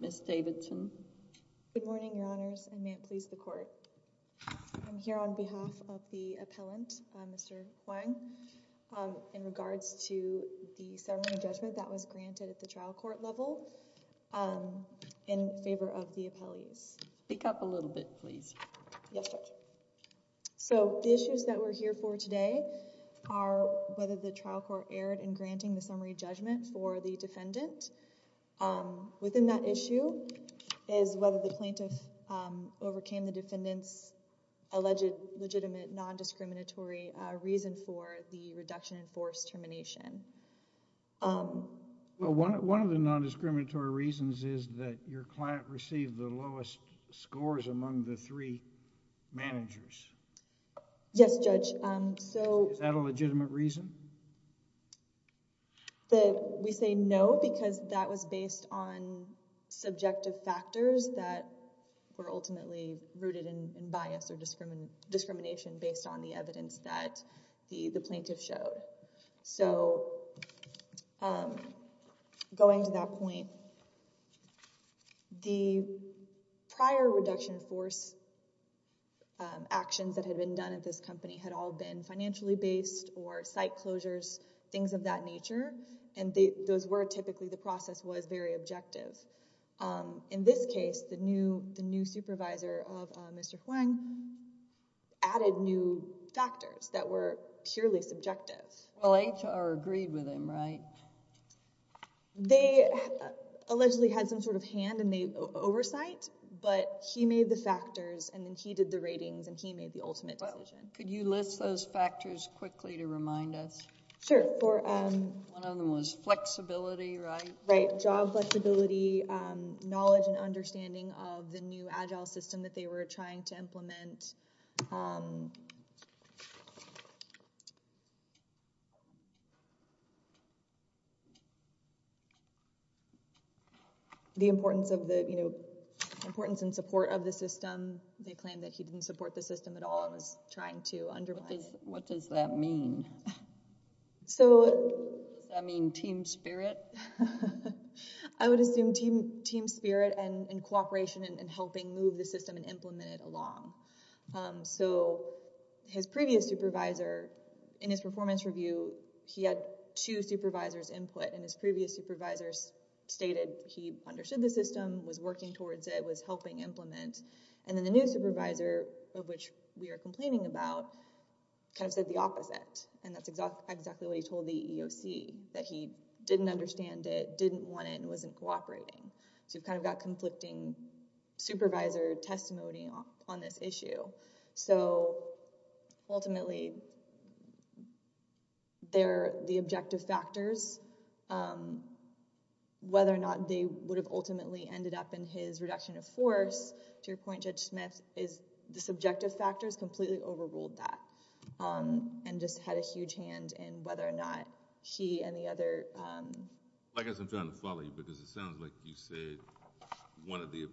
Ms. Davidson Good morning, Your Honors, and may it please the Court. I am here on behalf of the appellant, Mr. Hoang, in regards to the ceremony judgment that was granted at the trial court level in favor of the appellees. Speak up a little bit, please. So the issues that we're here for today are whether the trial court erred in granting the summary judgment for the defendant. Within that issue is whether the plaintiff overcame the defendant's alleged legitimate non-discriminatory reason for the reduction in forced termination. Well, one of the non-discriminatory reasons is that your client received the lowest scores among the three managers. Yes, Judge. So... Is that a legitimate reason? We say no because that was based on subjective factors that were ultimately rooted in bias or discrimination based on the evidence that the plaintiff showed. So going to that point, the prior reduction force actions that had been done at this company had all been financially based or site closures, things of that nature, and those were typically the process was very objective. In this case, the new supervisor of Mr. Hwang added new factors that were purely subjective. Well, HR agreed with him, right? They allegedly had some sort of hand in the oversight, but he made the factors and then he did the ratings and he made the ultimate decision. Could you list those factors quickly to remind us? Sure. One of them was flexibility, right? Right. Job flexibility, knowledge and understanding of the new Agile system that they were trying to implement, the importance of the, you know, importance and support of the system. They claimed that he didn't support the system at all and was trying to undermine it. What does that mean? So... Does that mean team spirit? I would assume team spirit and cooperation in helping move the system and implement it along. So his previous supervisor, in his performance review, he had two supervisors input and his previous supervisor stated he understood the system, was working towards it, was helping implement and then the new supervisor, of which we are complaining about, kind of said the opposite. And that's exactly what he told the EEOC, that he didn't understand it, didn't want it and wasn't cooperating. So you've kind of got conflicting supervisor testimony on this issue. So ultimately, the objective factors, whether or not they would have ultimately ended up in his reduction of force, to your point Judge Smith, the subjective factors completely overruled that. And just had a huge hand in whether or not he and the other... I guess I'm trying to follow you because it sounds like you said one of the,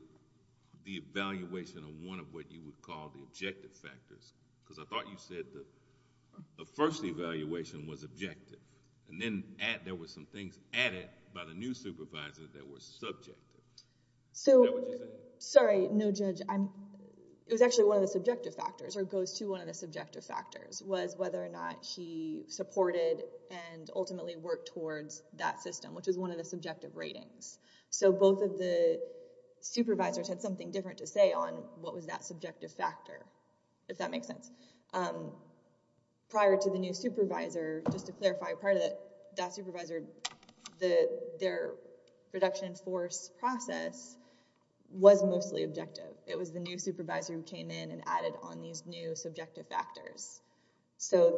the evaluation of one of what you would call the objective factors, because I thought you said the first evaluation was objective and then there were some things added by the new supervisor that were subjective. Is that what you're saying? Sorry, no Judge. It was actually one of the subjective factors, or goes to one of the subjective factors, was whether or not she supported and ultimately worked towards that system, which was one of the subjective ratings. So both of the supervisors had something different to say on what was that subjective factor, if that makes sense. Prior to the new supervisor, just to clarify, prior to that supervisor, their reduction of force process was mostly objective. It was the new supervisor who came in and added on these new subjective factors. So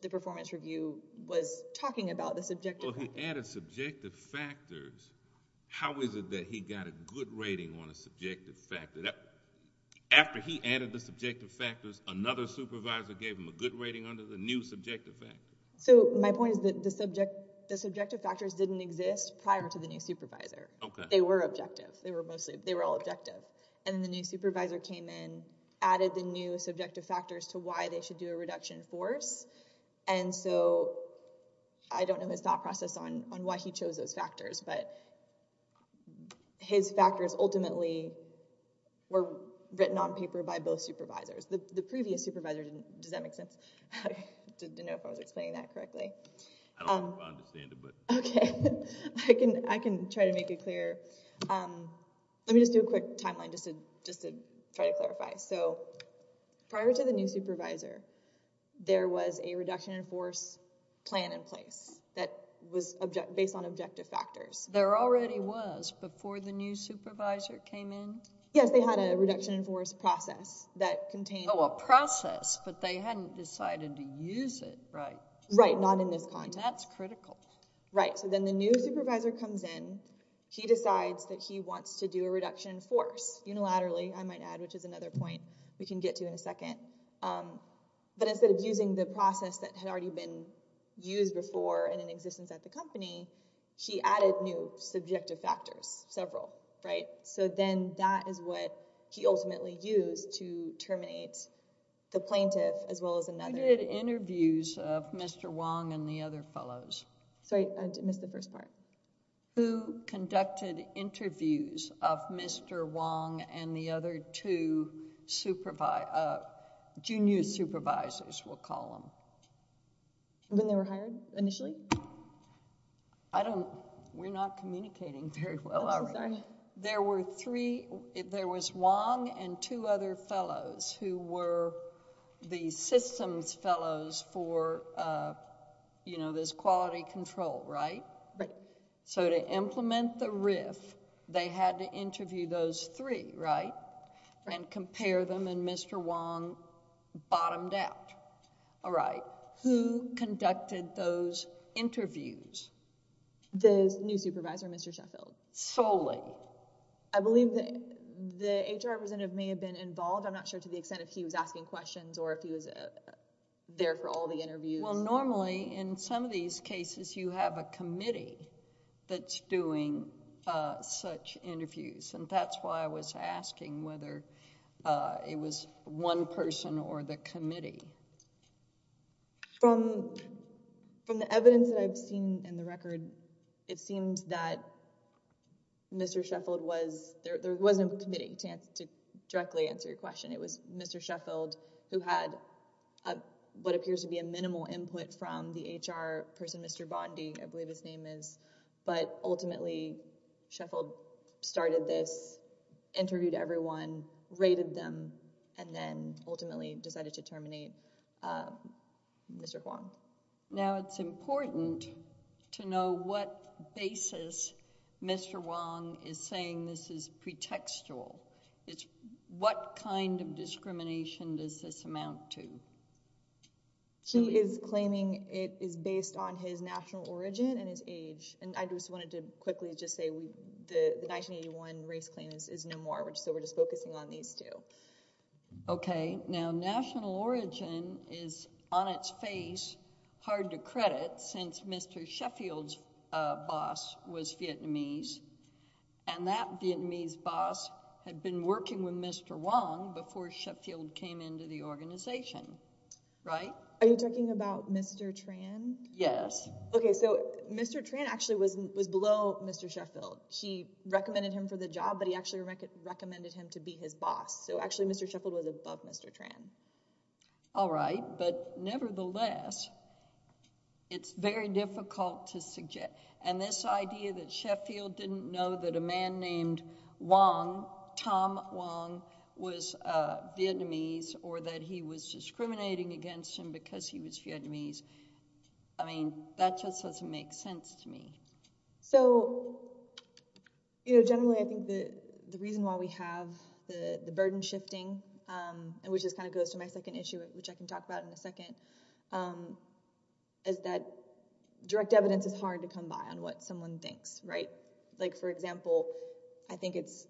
the performance review was talking about the subjective factors. Well, he added subjective factors. How is it that he got a good rating on a subjective factor? After he added the subjective factors, another supervisor gave him a good rating under the new subjective factors. So my point is that the subjective factors didn't exist prior to the new supervisor. They were objective. They were all objective. And then the new supervisor came in, added the new subjective factors to why they should do a reduction in force. And so I don't know his thought process on why he chose those factors, but his factors ultimately were written on paper by both supervisors. The previous supervisor didn't. Does that make sense? I didn't know if I was explaining that correctly. I don't know if I understand it, but... Okay. I can try to make it clear. Let me just do a quick timeline just to try to clarify. So prior to the new supervisor, there was a reduction in force plan in place that was based on objective factors. There already was before the new supervisor came in? Yes. They had a reduction in force process that contained... Oh, a process, but they hadn't decided to use it, right? Right. Not in this context. That's critical. Right. So then the new supervisor comes in. He decides that he wants to do a reduction in force unilaterally, I might add, which is another point we can get to in a second. But instead of using the process that had already been used before and in existence at the company, he added new subjective factors, several, right? So then that is what he ultimately used to terminate the plaintiff as well as another... Who did interviews of Mr. Wong and the other fellows? Sorry. I missed the first part. Who conducted interviews of Mr. Wong and the other two junior supervisors, we'll call them? When they were hired, initially? We're not communicating very well, are we? There were three... There was Wong and two other fellows who were the systems fellows for this quality control, right? Right. So to implement the RIF, they had to interview those three, right, and compare them and Mr. Wong bottomed out. All right. Who conducted those interviews? The new supervisor, Mr. Sheffield. Solely? I believe the HR representative may have been involved. I'm not sure to the extent if he was asking questions or if he was there for all the interviews. Well, normally in some of these cases, you have a committee that's doing such interviews and that's why I was asking whether it was one person or the committee. From the evidence that I've seen in the record, it seems that Mr. Sheffield was... There wasn't a committee to directly answer your question. It was Mr. Sheffield who had what appears to be a minimal input from the HR person, Mr. Bondy, I believe his name is. But ultimately, Sheffield started this, interviewed everyone, rated them, and then ultimately decided to terminate Mr. Wong. Now, it's important to know what basis Mr. Wong is saying this is pretextual. What kind of discrimination does this amount to? He is claiming it is based on his national origin and his age, and I just wanted to quickly just say the 1981 race claim is no more, so we're just focusing on these two. Okay. Now, national origin is, on its face, hard to credit since Mr. Sheffield's boss was Vietnamese, and that Vietnamese boss had been working with Mr. Wong before Sheffield came into the organization. Right? Are you talking about Mr. Tran? Yes. Okay, so Mr. Tran actually was below Mr. Sheffield. She recommended him for the job, but he actually recommended him to be his boss, so actually Mr. Sheffield was above Mr. Tran. All right, but nevertheless, it's very difficult to suggest, and this idea that Sheffield didn't know that a man named Wong, Tom Wong, was Vietnamese or that he was discriminating against him because he was Vietnamese, I mean, that just doesn't make sense to me. So generally, I think the reason why we have the burden shifting, which just kind of goes to my second issue, which I can talk about in a second, is that direct evidence is hard to come by on what someone thinks, right? Like for example, I think it's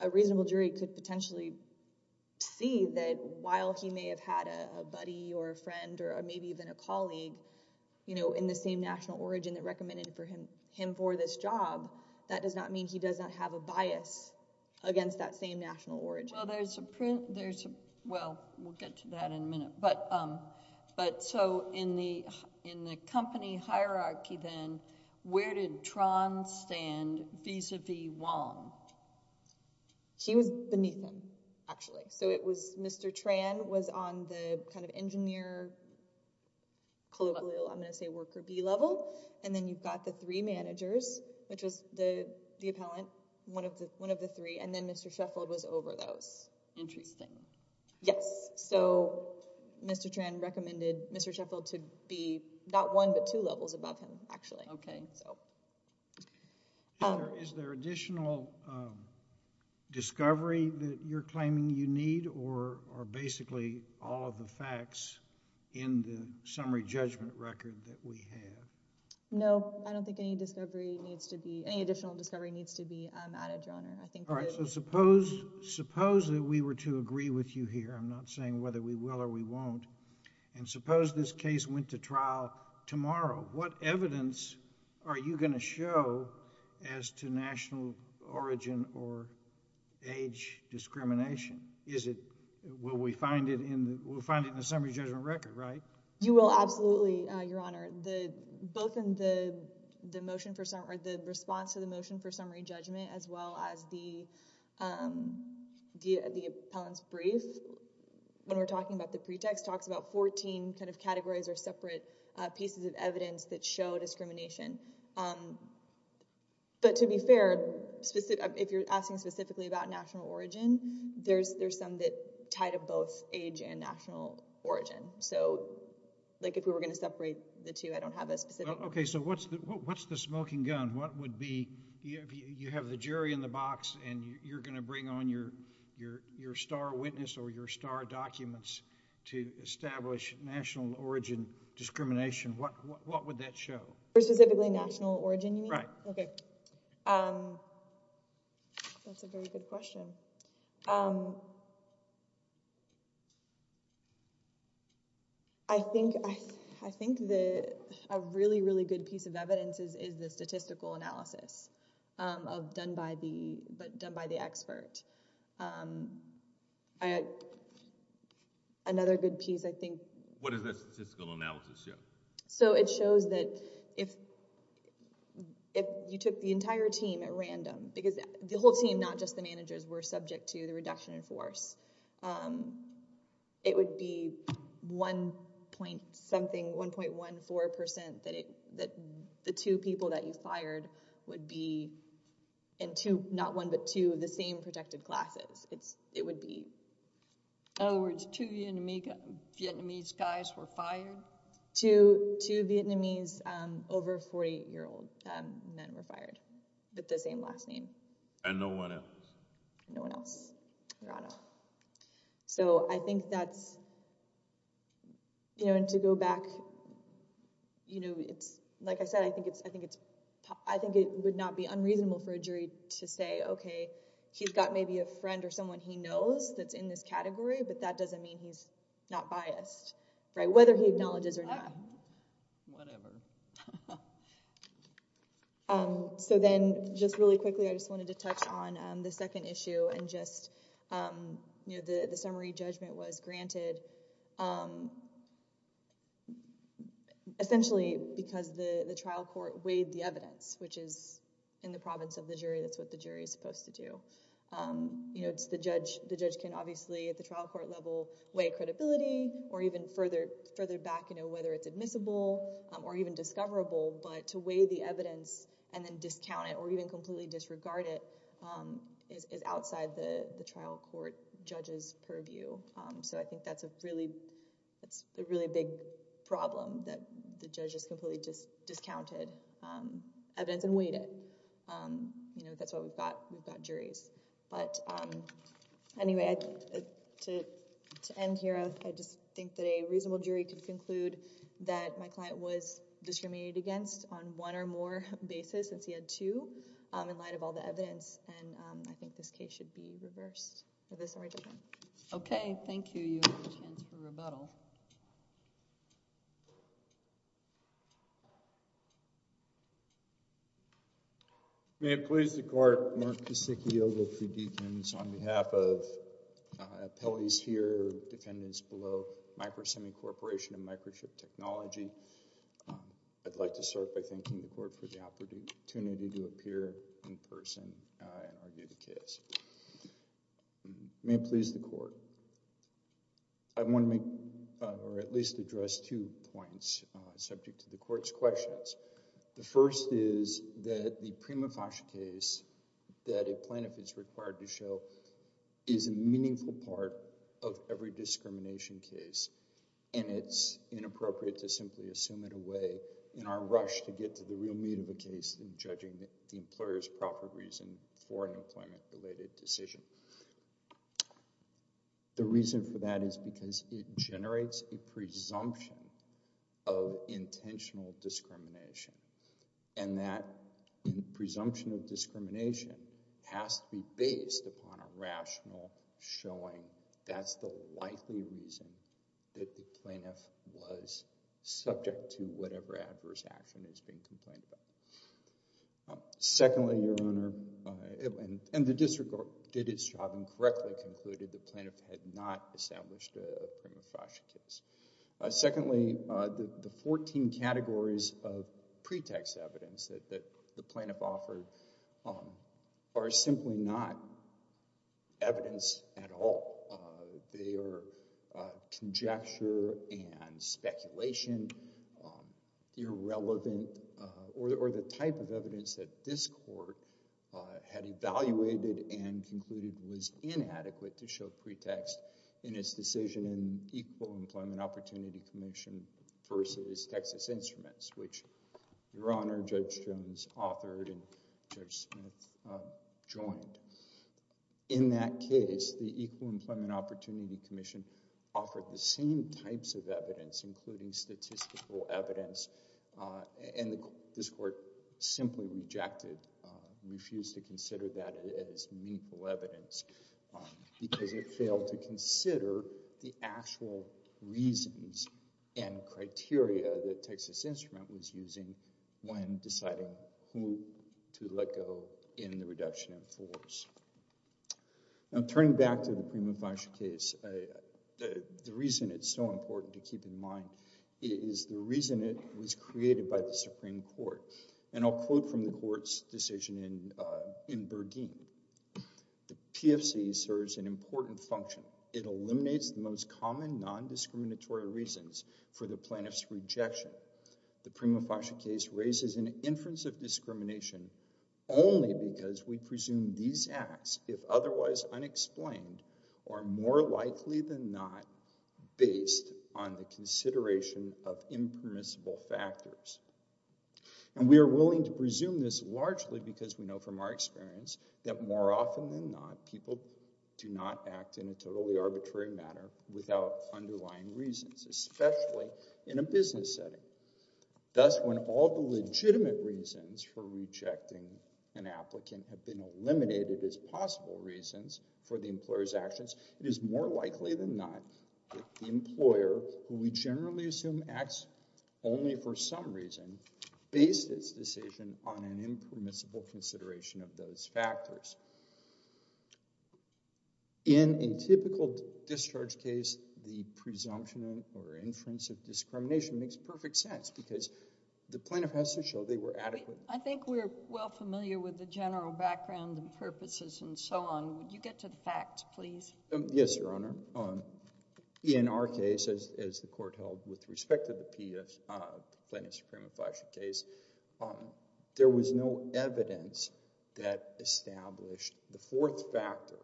a reasonable jury could potentially see that while he may have had a buddy or a friend or maybe even a colleague in the same national origin that recommended him for this job, that does not mean he does not have a bias against that same national origin. Well, there's a print, there's a, well, we'll get to that in a minute, but so in the company hierarchy then, where did Tran stand vis-a-vis Wong? She was beneath him, actually. So it was Mr. Tran was on the kind of engineer, I'm going to say worker B level, and then you've got the three managers, which was the appellant, one of the three, and then Mr. Sheffield was over those. Interesting. Yes. So Mr. Tran recommended Mr. Sheffield to be not one but two levels above him, actually. Okay. Is there additional discovery that you're claiming you need or basically all of the facts in the summary judgment record that we have? No, I don't think any discovery needs to be, any additional discovery needs to be added, Your Honor. All right, so suppose, suppose that we were to agree with you here, I'm not saying whether we will or we won't, and suppose this case went to trial tomorrow, what evidence are you going to show as to national origin or age discrimination? Is it, will we find it in the, we'll find it in the summary judgment record, right? You will absolutely, Your Honor, both in the motion for summary, the response to the motion for summary judgment as well as the appellant's brief when we're talking about the pretext talks about 14 kind of categories or separate pieces of evidence that show discrimination. But to be fair, if you're asking specifically about national origin, there's some that tie to both age and national origin. So, like if we were going to separate the two, I don't have a specific. Okay, so what's the smoking gun? What would be, you have the jury in the box and you're going to bring on your star witness or your star documents to establish national origin discrimination. What would that show? Specifically national origin, you mean? Right. Okay. That's a very good question. Um, I think, I think the, a really, really good piece of evidence is the statistical analysis of done by the, done by the expert. Another good piece, I think. What does that statistical analysis show? So it shows that if, if you took the entire team at random, because the whole team, not just the managers, were subject to the reduction in force, um, it would be 1.something, 1.14% that it, that the two people that you fired would be in two, not one, but two of the same protected classes. It's, it would be. In other words, two Vietnamese guys were fired? Two, two Vietnamese, um, over 40 year old men were fired with the same last name. And no one else. No one else. Right. So I think that's, you know, and to go back, you know, it's, like I said, I think it's, I think it's, I think it would not be unreasonable for a jury to say, okay, he's got maybe a friend or someone he knows that's in this category, but that doesn't mean he's not biased. Right. Whether he acknowledges or not. Whatever. Um, so then, just really quickly, I just wanted to touch on, um, the second issue, and just, um, you know, the, the summary judgment was granted, um, essentially because the, the trial court weighed the evidence, which is in the province of the jury, that's what the jury is supposed to do. Um, you know, it's the judge, the judge can obviously at the trial court level weigh credibility or even further, further back, you know, whether it's admissible, um, or even discoverable, but to weigh the evidence and then discount it or even completely disregard it, um, is, is outside the, the trial court judge's purview. Um, so I think that's a really, that's a really big problem that the judge has completely just discounted, um, evidence and weighed it. Um, you know, that's why we've got, we've got juries. But, um, anyway, I, to, to end here, I, I just think that a reasonable jury could conclude that my client was discriminated against on one or more basis since he had two, um, in light of all the evidence, and, um, I think this case should be reversed with a summary judgment. Okay. Thank you. You have a chance for rebuttal. May it please the court, Mark Kosicki, Ogilvie Defendants, on behalf of, uh, appellees here, defendants below, Micro Semicorporation and Microchip Technology, um, I'd like to start by thanking the court for the opportunity to appear in person, uh, and argue the case. May it please the court. I want to make, uh, or at least address two points, uh, subject to the court's questions. The first is that the prima facie case that a plaintiff is required to show is a meaningful part of every discrimination case, and it's inappropriate to simply assume it away in our rush to get to the real meat of the case in judging the, the employer's proper reason for an employment-related decision. The reason for that is because it generates a presumption of intentional discrimination, and that presumption of discrimination has to be based upon a rational showing. That's the likely reason that the plaintiff was subject to whatever adverse action is being complained about. Secondly, Your Honor, and the district did its job and correctly concluded the plaintiff had not established a prima facie case. Secondly, uh, the, the 14 categories of pretext evidence that, that the plaintiff offered, um, are simply not evidence at all. Uh, they are, uh, conjecture and speculation, um, irrelevant, uh, or, or the type of evidence that this court, uh, had evaluated and concluded was inadequate to show pretext in its decision in Equal Employment Opportunity Commission versus Texas Instruments, which Your Honor, Judge Jones authored and Judge Smith, uh, joined. In that case, the Equal Employment Opportunity Commission offered the same types of evidence, including statistical evidence, uh, and this court simply rejected, uh, refused to consider that as meaningful evidence, um, because it failed to consider the actual reasons and factors. Now, turning back to the prima facie case, uh, uh, the reason it's so important to keep in mind is the reason it was created by the Supreme Court. And I'll quote from the court's decision in, uh, in Bergeen. The PFC serves an important function. It eliminates the most common non-discriminatory reasons for the plaintiff's rejection. However, the prima facie case raises an inference of discrimination only because we presume these acts, if otherwise unexplained, are more likely than not based on the consideration of impermissible factors. And we are willing to presume this largely because we know from our experience that more often than not, people do not act in a totally arbitrary manner without underlying reasons, especially in a business setting. Thus, when all the legitimate reasons for rejecting an applicant have been eliminated as possible reasons for the employer's actions, it is more likely than not that the employer, who we generally assume acts only for some reason, based its decision on an impermissible consideration of those factors. In a typical discharge case, the presumption or inference of discrimination makes perfect sense because the plaintiff has to show they were adequate. I think we're well familiar with the general background and purposes and so on. Would you get to the facts, please? Yes, Your Honor. In our case, as the court held with respect to the plaintiff's prima facie case, there was no evidence that established the fourth factor.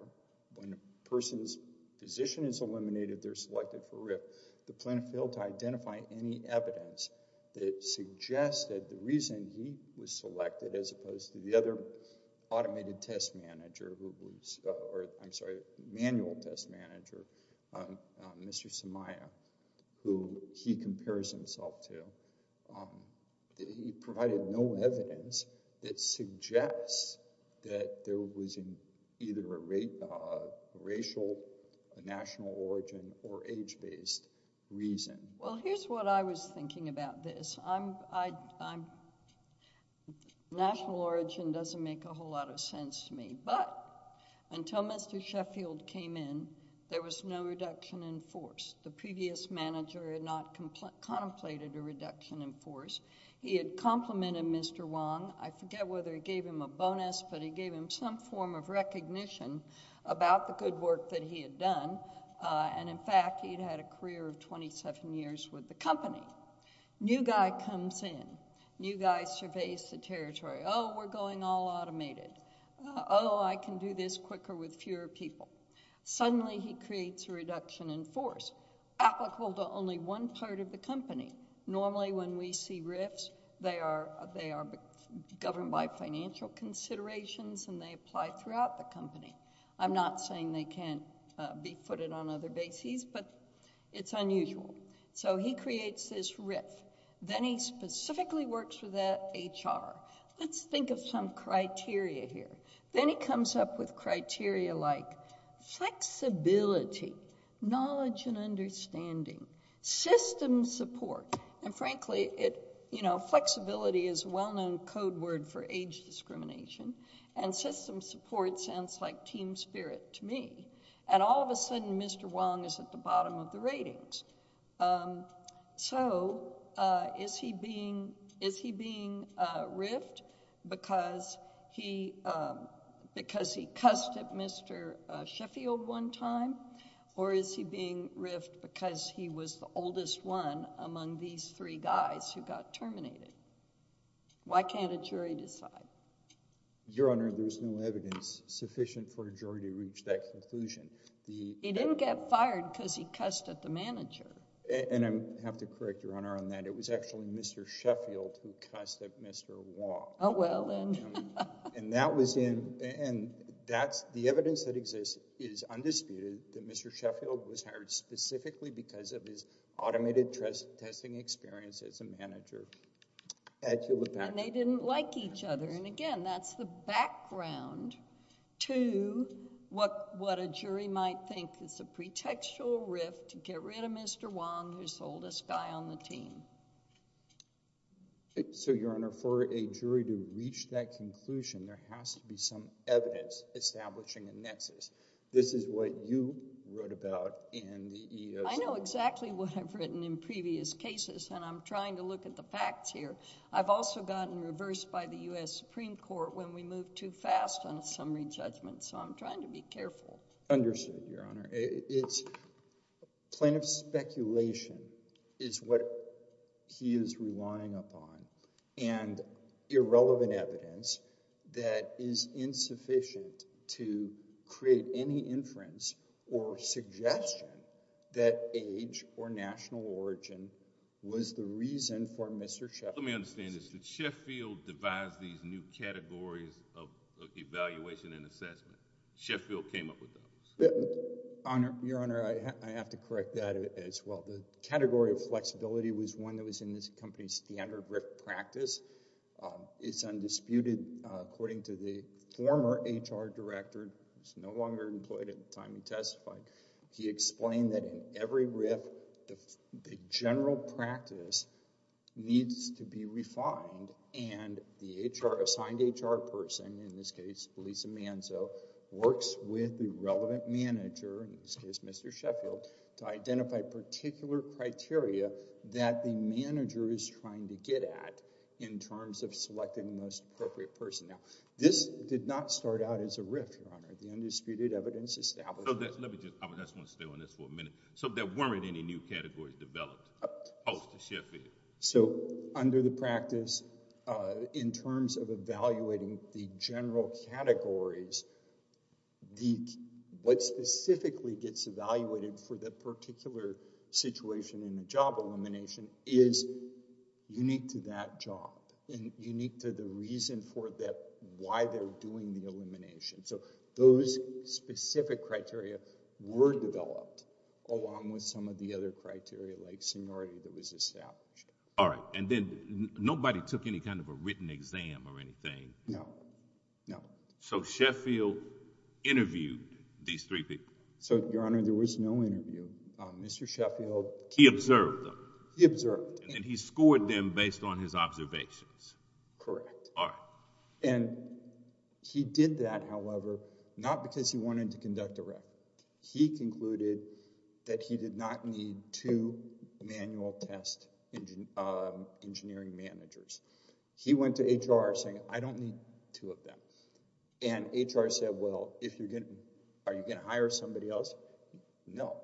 When a person's position is eliminated, they're selected for RIF. The plaintiff failed to identify any evidence that suggested the reason he was selected as opposed to the other automated test manager who was—I'm sorry, manual test manager, Mr. Samaya, who he compares himself to. He provided no evidence that suggests that there was either a racial, national origin, or age-based reason. Well, here's what I was thinking about this. National origin doesn't make a whole lot of sense to me, but until Mr. Sheffield came in, there was no reduction in force. The previous manager had not contemplated a reduction in force. He had complimented Mr. Wong. I forget whether he gave him a bonus, but he gave him some form of recognition about the good work that he had done, and in fact, he'd had a career of 27 years with the company. New guy comes in. New guy surveys the territory. Oh, we're going all automated. Oh, I can do this quicker with fewer people. Suddenly, he creates a reduction in force applicable to only one part of the company. Normally, when we see RIFs, they are governed by financial considerations, and they apply throughout the company. I'm not saying they can't be footed on other bases, but it's unusual. He creates this RIF. Then he specifically works with the HR. Let's think of some criteria here. Then he comes up with criteria like flexibility, knowledge and understanding, system support. Frankly, flexibility is a well-known code word for age discrimination, and system support sounds like team spirit to me. All of a sudden, Mr. Wong is at the bottom of the ratings. Is he being RIFed because he cussed at Mr. Sheffield one time, or is he being RIFed because he was the oldest one among these three guys who got terminated? Why can't a jury decide? Your Honor, there's no evidence sufficient for a jury to reach that conclusion. He didn't get fired because he cussed at the manager. I have to correct Your Honor on that. It was actually Mr. Sheffield who cussed at Mr. Wong. Oh, well, then. The evidence that exists is undisputed that Mr. Sheffield was hired specifically because of his automated testing experience as a manager at Hewlett Packard. They didn't like each other. Again, that's the background to what a jury might think is a pretextual RIF to get rid of Mr. Wong, who's the oldest guy on the team. Your Honor, for a jury to reach that conclusion, there has to be some evidence establishing a nexus. This is what you wrote about in the EEOC... I know exactly what I've written in previous cases, and I'm trying to look at the facts here. I've also gotten reversed by the U.S. Supreme Court when we move too fast on a summary judgment, so I'm trying to be careful. Understood, Your Honor. Plaintiff's speculation is what he is relying upon, and irrelevant evidence that is insufficient to create any inference or suggestion that age or national origin was the reason for Mr. Sheffield's... Let me understand this. Did Sheffield devise these new categories of evaluation and assessment? Sheffield came up with those? Your Honor, I have to correct that as well. The category of flexibility was one that was in this company's standard RIF practice. It's undisputed. According to the former HR director, who's no longer employed at the time he testified, he explained that in every RIF the general practice needs to be refined, and the assigned HR person, in this case Lisa Manzo, works with the relevant manager, in this case Mr. Sheffield, to identify particular criteria that the manager is trying to get at in terms of selecting the most appropriate person. Now, this did not start out as a RIF, Your Honor. The undisputed evidence established... Let me just... I just want to stay on this for a minute. So, there weren't any new categories developed post-Sheffield? So, under the practice, in terms of evaluating the general categories, what specifically gets evaluated for the particular situation in the job elimination is unique to that job and unique to the reason for that... why they're doing the elimination. So, those specific criteria were developed along with some of the other criteria, like seniority that was established. All right. And then nobody took any kind of a written exam or anything? No, no. So, Sheffield interviewed these three people? So, Your Honor, there was no interview. Mr. Sheffield... He observed them? He observed. And he scored them based on his observations? Correct. All right. And, he did that, however, not because he wanted to conduct a rep. He concluded that he did not need two manual test engineering managers. He went to HR saying, I don't need two of them. And, HR said, well, if you're going to... are you going to hire somebody else? No.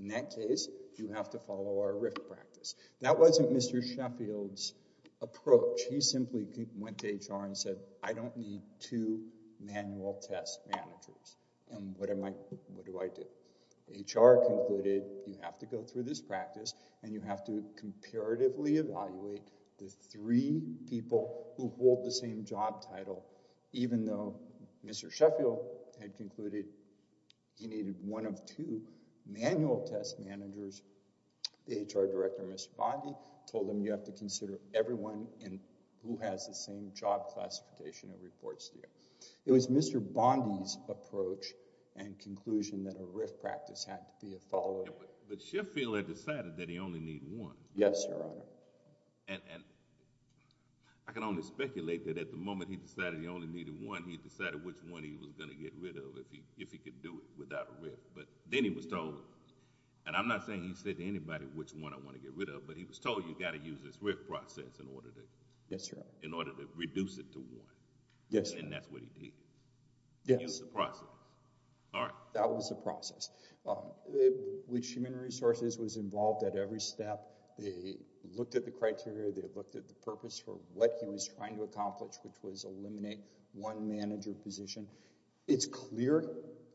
In that case, you have to follow our RIF practice. That wasn't Mr. Sheffield's approach. He simply went to HR and said, I don't need two manual test managers. And, what do I do? HR concluded, you have to go through this practice and you have to comparatively evaluate the three people who hold the same job title, even though Mr. Sheffield had concluded he needed one of two manual test managers. The HR director, Mr. Bondy, told him you have to consider everyone who has the same job classification and reports here. It was Mr. Bondy's approach and conclusion that a RIF practice had to be a follow-up. But, Sheffield had decided that he only needed one. Yes, Your Honor. And, I can only speculate that at the moment he decided he only needed one, he decided which one he was going to get rid of if he could do it without a RIF. But, then he was told, and I'm not saying he said to anybody which one I want to get rid of, but he was told you've got to use this RIF process in order to reduce it to one. Yes, Your Honor. And, that's what he did. Yes. He used the process. All right. That was the process. Which Human Resources was involved at every step. They looked at the criteria. They looked at the purpose for what he was trying to accomplish, which was eliminate one manager position. It's clear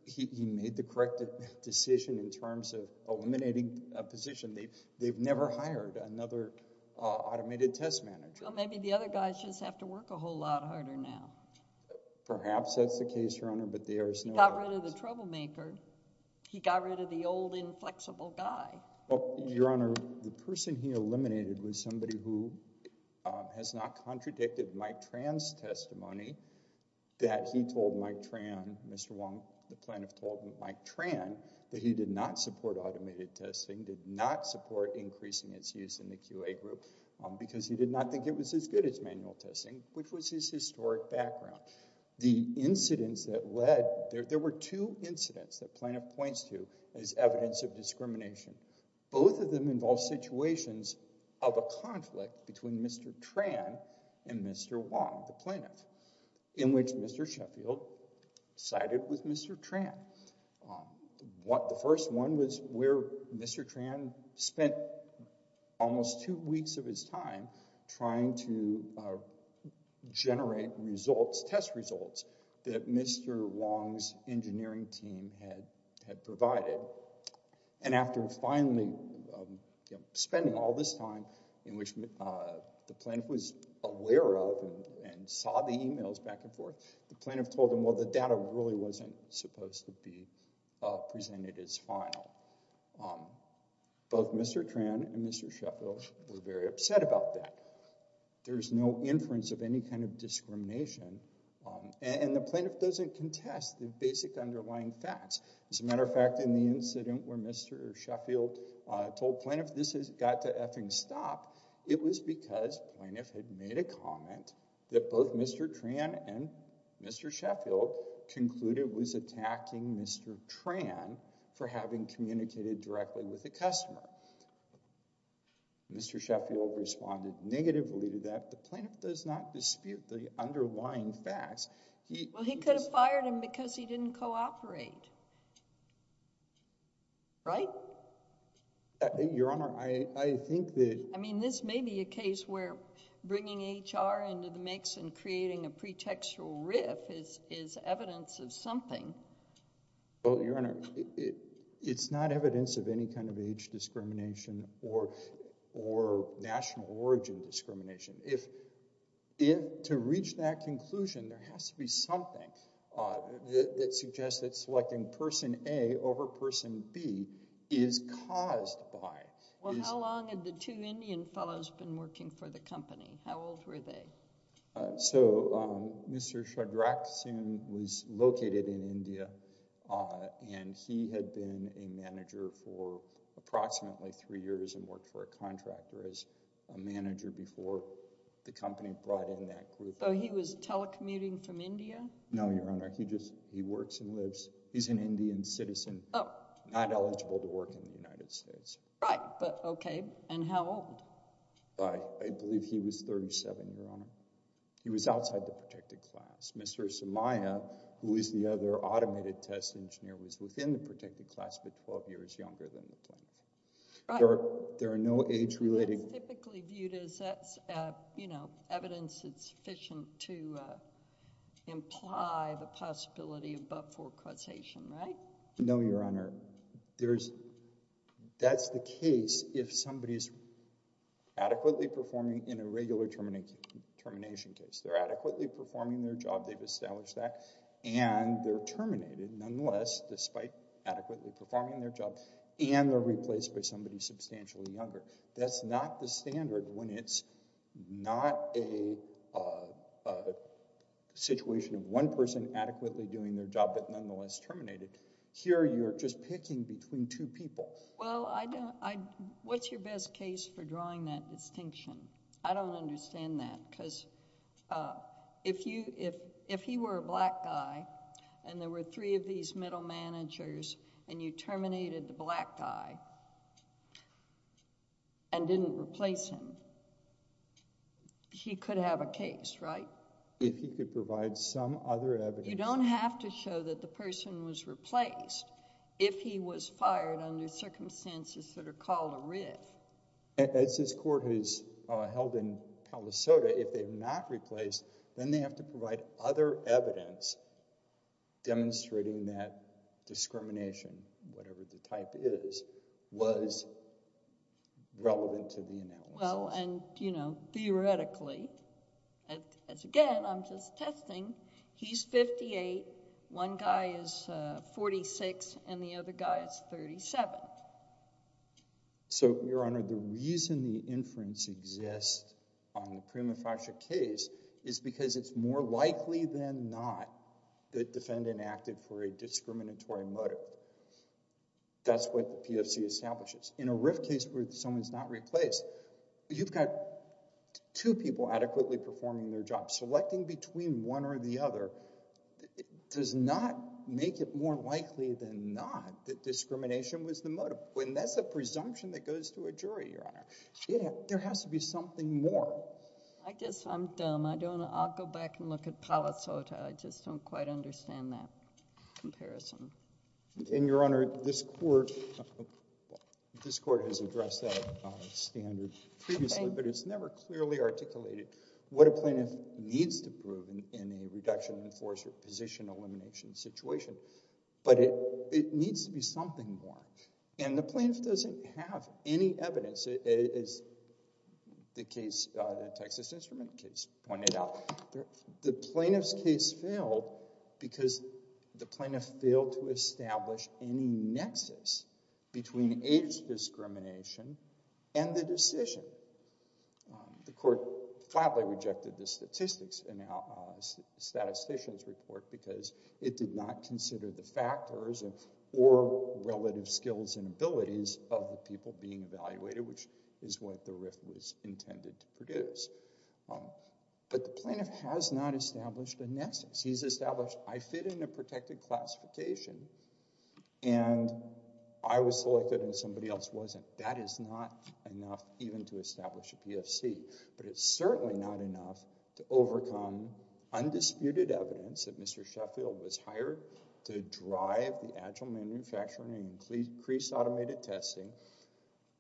he made the correct decision in terms of eliminating a position. They've never hired another automated test manager. Well, maybe the other guys just have to work a whole lot harder now. Perhaps that's the case, Your Honor, but there's no doubt. He got rid of the troublemaker. He got rid of the old inflexible guy. Well, Your Honor, the person he eliminated was somebody who has not contradicted Mike Tran's testimony that he told Mike Tran, Mr. Wong, the plaintiff told Mike Tran, that he did not support automated testing, did not support increasing its use in the QA group because he did not think it was as good as manual testing, which was his historic background. There were two incidents that plaintiff points to as evidence of discrimination. Both of them involve situations of a conflict between Mr. Tran and Mr. Wong, the plaintiff, in which Mr. Sheffield sided with Mr. Tran. The first one was where Mr. Tran spent almost two weeks of his time trying to generate test results that Mr. Wong's engineering team had provided. And after finally spending all this time in which the plaintiff was aware of and saw the emails back and forth, the plaintiff told him, well, the data really wasn't supposed to be presented as final. Both Mr. Tran and Mr. Sheffield were very upset about that. There's no inference of any kind of discrimination, and the plaintiff doesn't contest the basic underlying facts. As a matter of fact, in the incident where Mr. Sheffield told plaintiff this has got to effing stop, it was because plaintiff had made a comment that both Mr. Tran and Mr. Sheffield concluded was attacking Mr. Tran for having communicated directly with the customer. Mr. Sheffield responded negatively to that. The plaintiff does not dispute the underlying facts. Well, he could have fired him because he didn't cooperate, right? Your Honor, I think that— I mean, this may be a case where bringing HR into the mix and creating a pretextual riff is evidence of something. Well, Your Honor, it's not evidence of any kind of age discrimination or national origin discrimination. To reach that conclusion, there has to be something that suggests that selecting person A over person B is caused by— Well, how long had the two Indian fellows been working for the company? How old were they? So Mr. Shadraksan was located in India, and he had been a manager for approximately three years and worked for a contractor as a manager before the company brought in that group. So he was telecommuting from India? No, Your Honor. He just—he works and lives—he's an Indian citizen. Oh. Not eligible to work in the United States. Right, but okay. And how old? I believe he was 37, Your Honor. He was outside the protected class. Mr. Sumaya, who is the other automated test engineer, was within the protected class but 12 years younger than the plaintiff. There are no age-related— That's typically viewed as evidence that's sufficient to imply the possibility of but-for causation, right? No, Your Honor. That's the case if somebody is adequately performing in a regular termination case. They're adequately performing their job. They've established that. And they're terminated nonetheless despite adequately performing their job, and they're replaced by somebody substantially younger. That's not the standard when it's not a situation of one person adequately doing their job but nonetheless terminated. Here you're just picking between two people. Well, I don't—what's your best case for drawing that distinction? I don't understand that because if he were a black guy and there were three of these middle managers and you terminated the black guy and didn't replace him, he could have a case, right? If he could provide some other evidence... You don't have to show that the person was replaced if he was fired under circumstances that are called a writ. As this court has held in Palo Solto, if they have not replaced, then they have to provide other evidence demonstrating that discrimination, whatever the type is, was relevant to the analysis. Well, and, you know, theoretically, as again, I'm just testing. He's 58. One guy is 46, and the other guy is 37. So, Your Honor, the reason the inference exists on the prima facie case is because it's more likely than not that the defendant acted for a discriminatory motive. That's what the PFC establishes. In a writ case where someone's not replaced, you've got two people adequately performing their job. Selecting between one or the other does not make it more likely than not that discrimination was the motive. And that's a presumption that goes to a jury, Your Honor. There has to be something more. I guess I'm dumb. I'll go back and look at Palo Solto. I just don't quite understand that comparison. And, Your Honor, this court has addressed that standard previously, but it's never clearly articulated what a plaintiff needs to prove in a reduction in force or position elimination situation. But it needs to be something more. And the plaintiff doesn't have any evidence. As the Texas Instrument case pointed out, the plaintiff's case failed because the plaintiff failed to establish any nexus between age discrimination and the decision. The court flatly rejected the statistician's report because it did not consider the factors or relative skills and abilities of the people being evaluated, which is what the RIF was intended to produce. But the plaintiff has not established a nexus. He's established, I fit in a protected classification, and I was selected and somebody else wasn't. That is not enough even to establish a PFC, but it's certainly not enough to overcome undisputed evidence that Mr. Sheffield was hired to drive the agile manufacturing and crease-automated testing,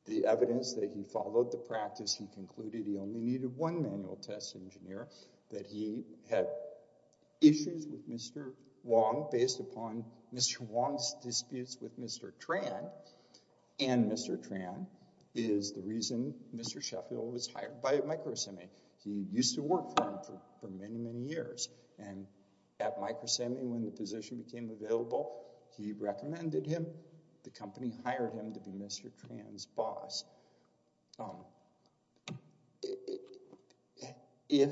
the evidence that he followed the practice, he concluded he only needed one manual test engineer, that he had issues with Mr. Wong based upon Mr. Wong's disputes with Mr. Tran, and Mr. Tran is the reason Mr. Sheffield was hired by Microsemi. He used to work for him for many, many years. And at Microsemi, when the position became available, he recommended him. The company hired him to be Mr. Tran's boss. If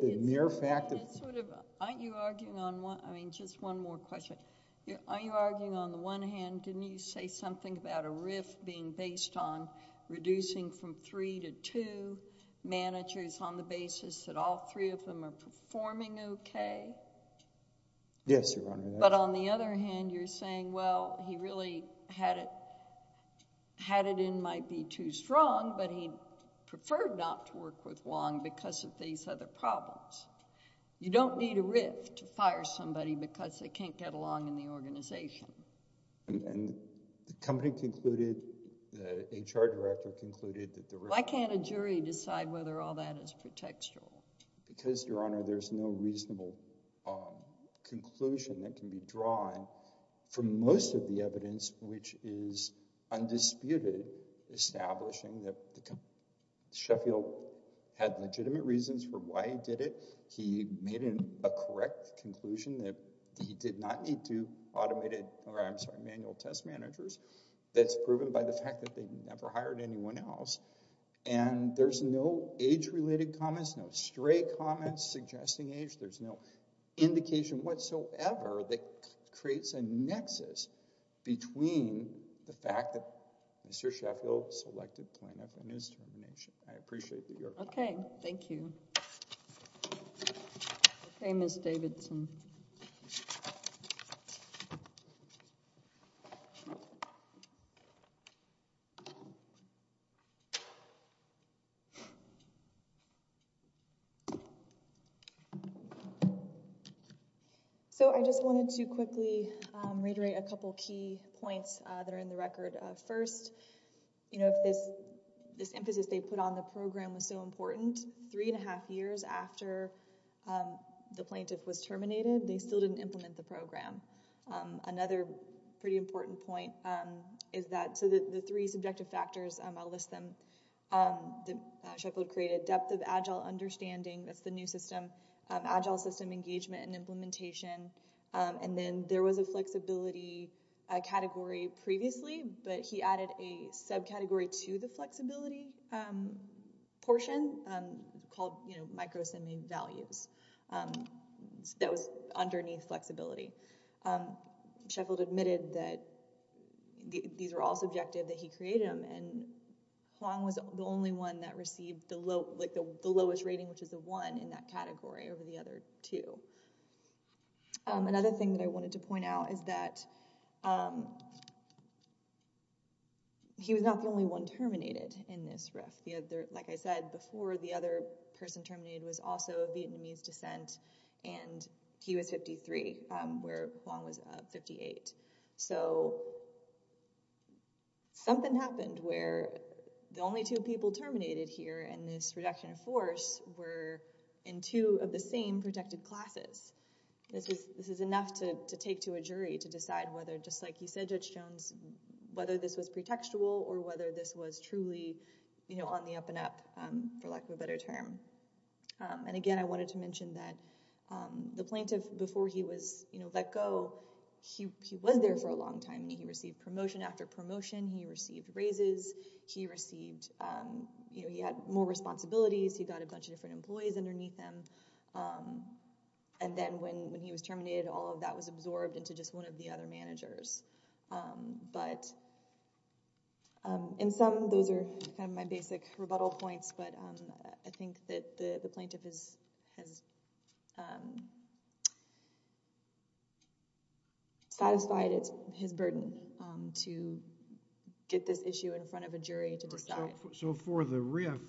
the mere fact that— Aren't you arguing on one—I mean, just one more question. Aren't you arguing on the one hand, didn't you say something about a RIF being based on reducing from three to two managers on the basis that all three of them are performing okay? Yes, Your Honor. But on the other hand, you're saying, well, he really had it in might be too strong, but he preferred not to work with Wong because of these other problems. You don't need a RIF to fire somebody because they can't get along in the organization. And the company concluded, the HR director concluded that the RIF— Why can't a jury decide whether all that is pretextual? Because, Your Honor, there's no reasonable conclusion that can be drawn from most of the evidence, which is undisputed, establishing that Sheffield had legitimate reasons for why he did it. He made a correct conclusion that he did not need two automated—or, I'm sorry, manual test managers. That's proven by the fact that they never hired anyone else. And there's no age-related comments, no stray comments suggesting age. There's no indication whatsoever that creates a nexus between the fact that Mr. Sheffield selected Plano for his termination. I appreciate that, Your Honor. Okay. Thank you. Okay, Ms. Davidson. So I just wanted to quickly reiterate a couple key points that are in the record. First, you know, this emphasis they put on the program was so important. Three and a half years after the plaintiff was terminated, they still didn't implement the program. Another pretty important point is that—so the three subjective factors, I'll list them. Sheffield created depth of Agile understanding. That's the new system. Agile system engagement and implementation. And then there was a flexibility category previously, but he added a subcategory to the flexibility portion called, you know, Sheffield admitted that these were all subjective, that he created them, and Hoang was the only one that received the lowest rating, which is a one in that category, over the other two. Another thing that I wanted to point out is that he was not the only one terminated in this rift. Like I said, before the other person terminated was also of Vietnamese descent, and he was 53, where Hoang was 58. So something happened where the only two people terminated here in this reduction of force were in two of the same protected classes. This is enough to take to a jury to decide whether, just like you said, Judge Jones, whether this was pretextual or whether this was truly, you know, on the up and up, for lack of a better term. And again, I wanted to mention that the plaintiff, before he was, you know, let go, he was there for a long time. He received promotion after promotion. He received raises. He received, you know, he had more responsibilities. He got a bunch of different employees underneath him. And then when he was terminated, all of that was absorbed into just one of the other managers. But in sum, those are kind of my basic rebuttal points. But I think that the plaintiff has satisfied his burden to get this issue in front of a jury to decide. So for the RIF,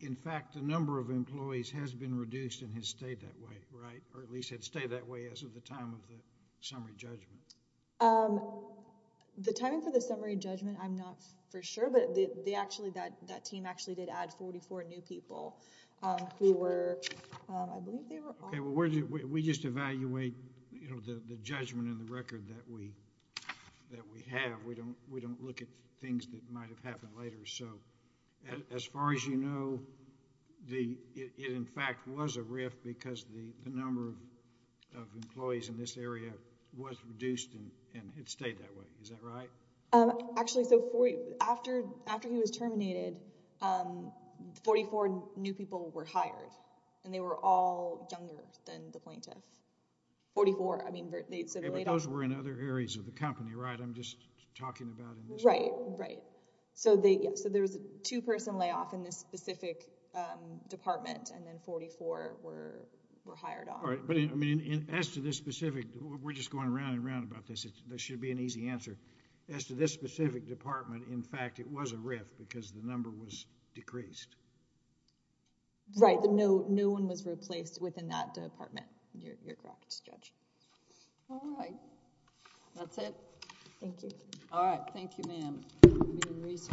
in fact, the number of employees has been reduced and has stayed that way, right? Or at least had stayed that way as of the time of the summary judgment. The timing for the summary judgment, I'm not for sure. But they actually, that team actually did add 44 new people who were, I believe they were all... We just evaluate, you know, the judgment and the record that we have. We don't look at things that might have happened later. So as far as you know, it in fact was a RIF because the number of employees in this area was reduced and it stayed that way. Is that right? Actually, so after he was terminated, 44 new people were hired. And they were all younger than the plaintiff. 44, I mean... Right, right. So there was a two-person layoff in this specific department and then 44 were hired on. All right, but as to this specific... we're just going around and around about this. There should be an easy answer. As to this specific department, in fact, it was a RIF because the number was decreased. Right, no one was replaced within that department. You're correct, Judge. All right. That's it. Thank you. All right, thank you, ma'am.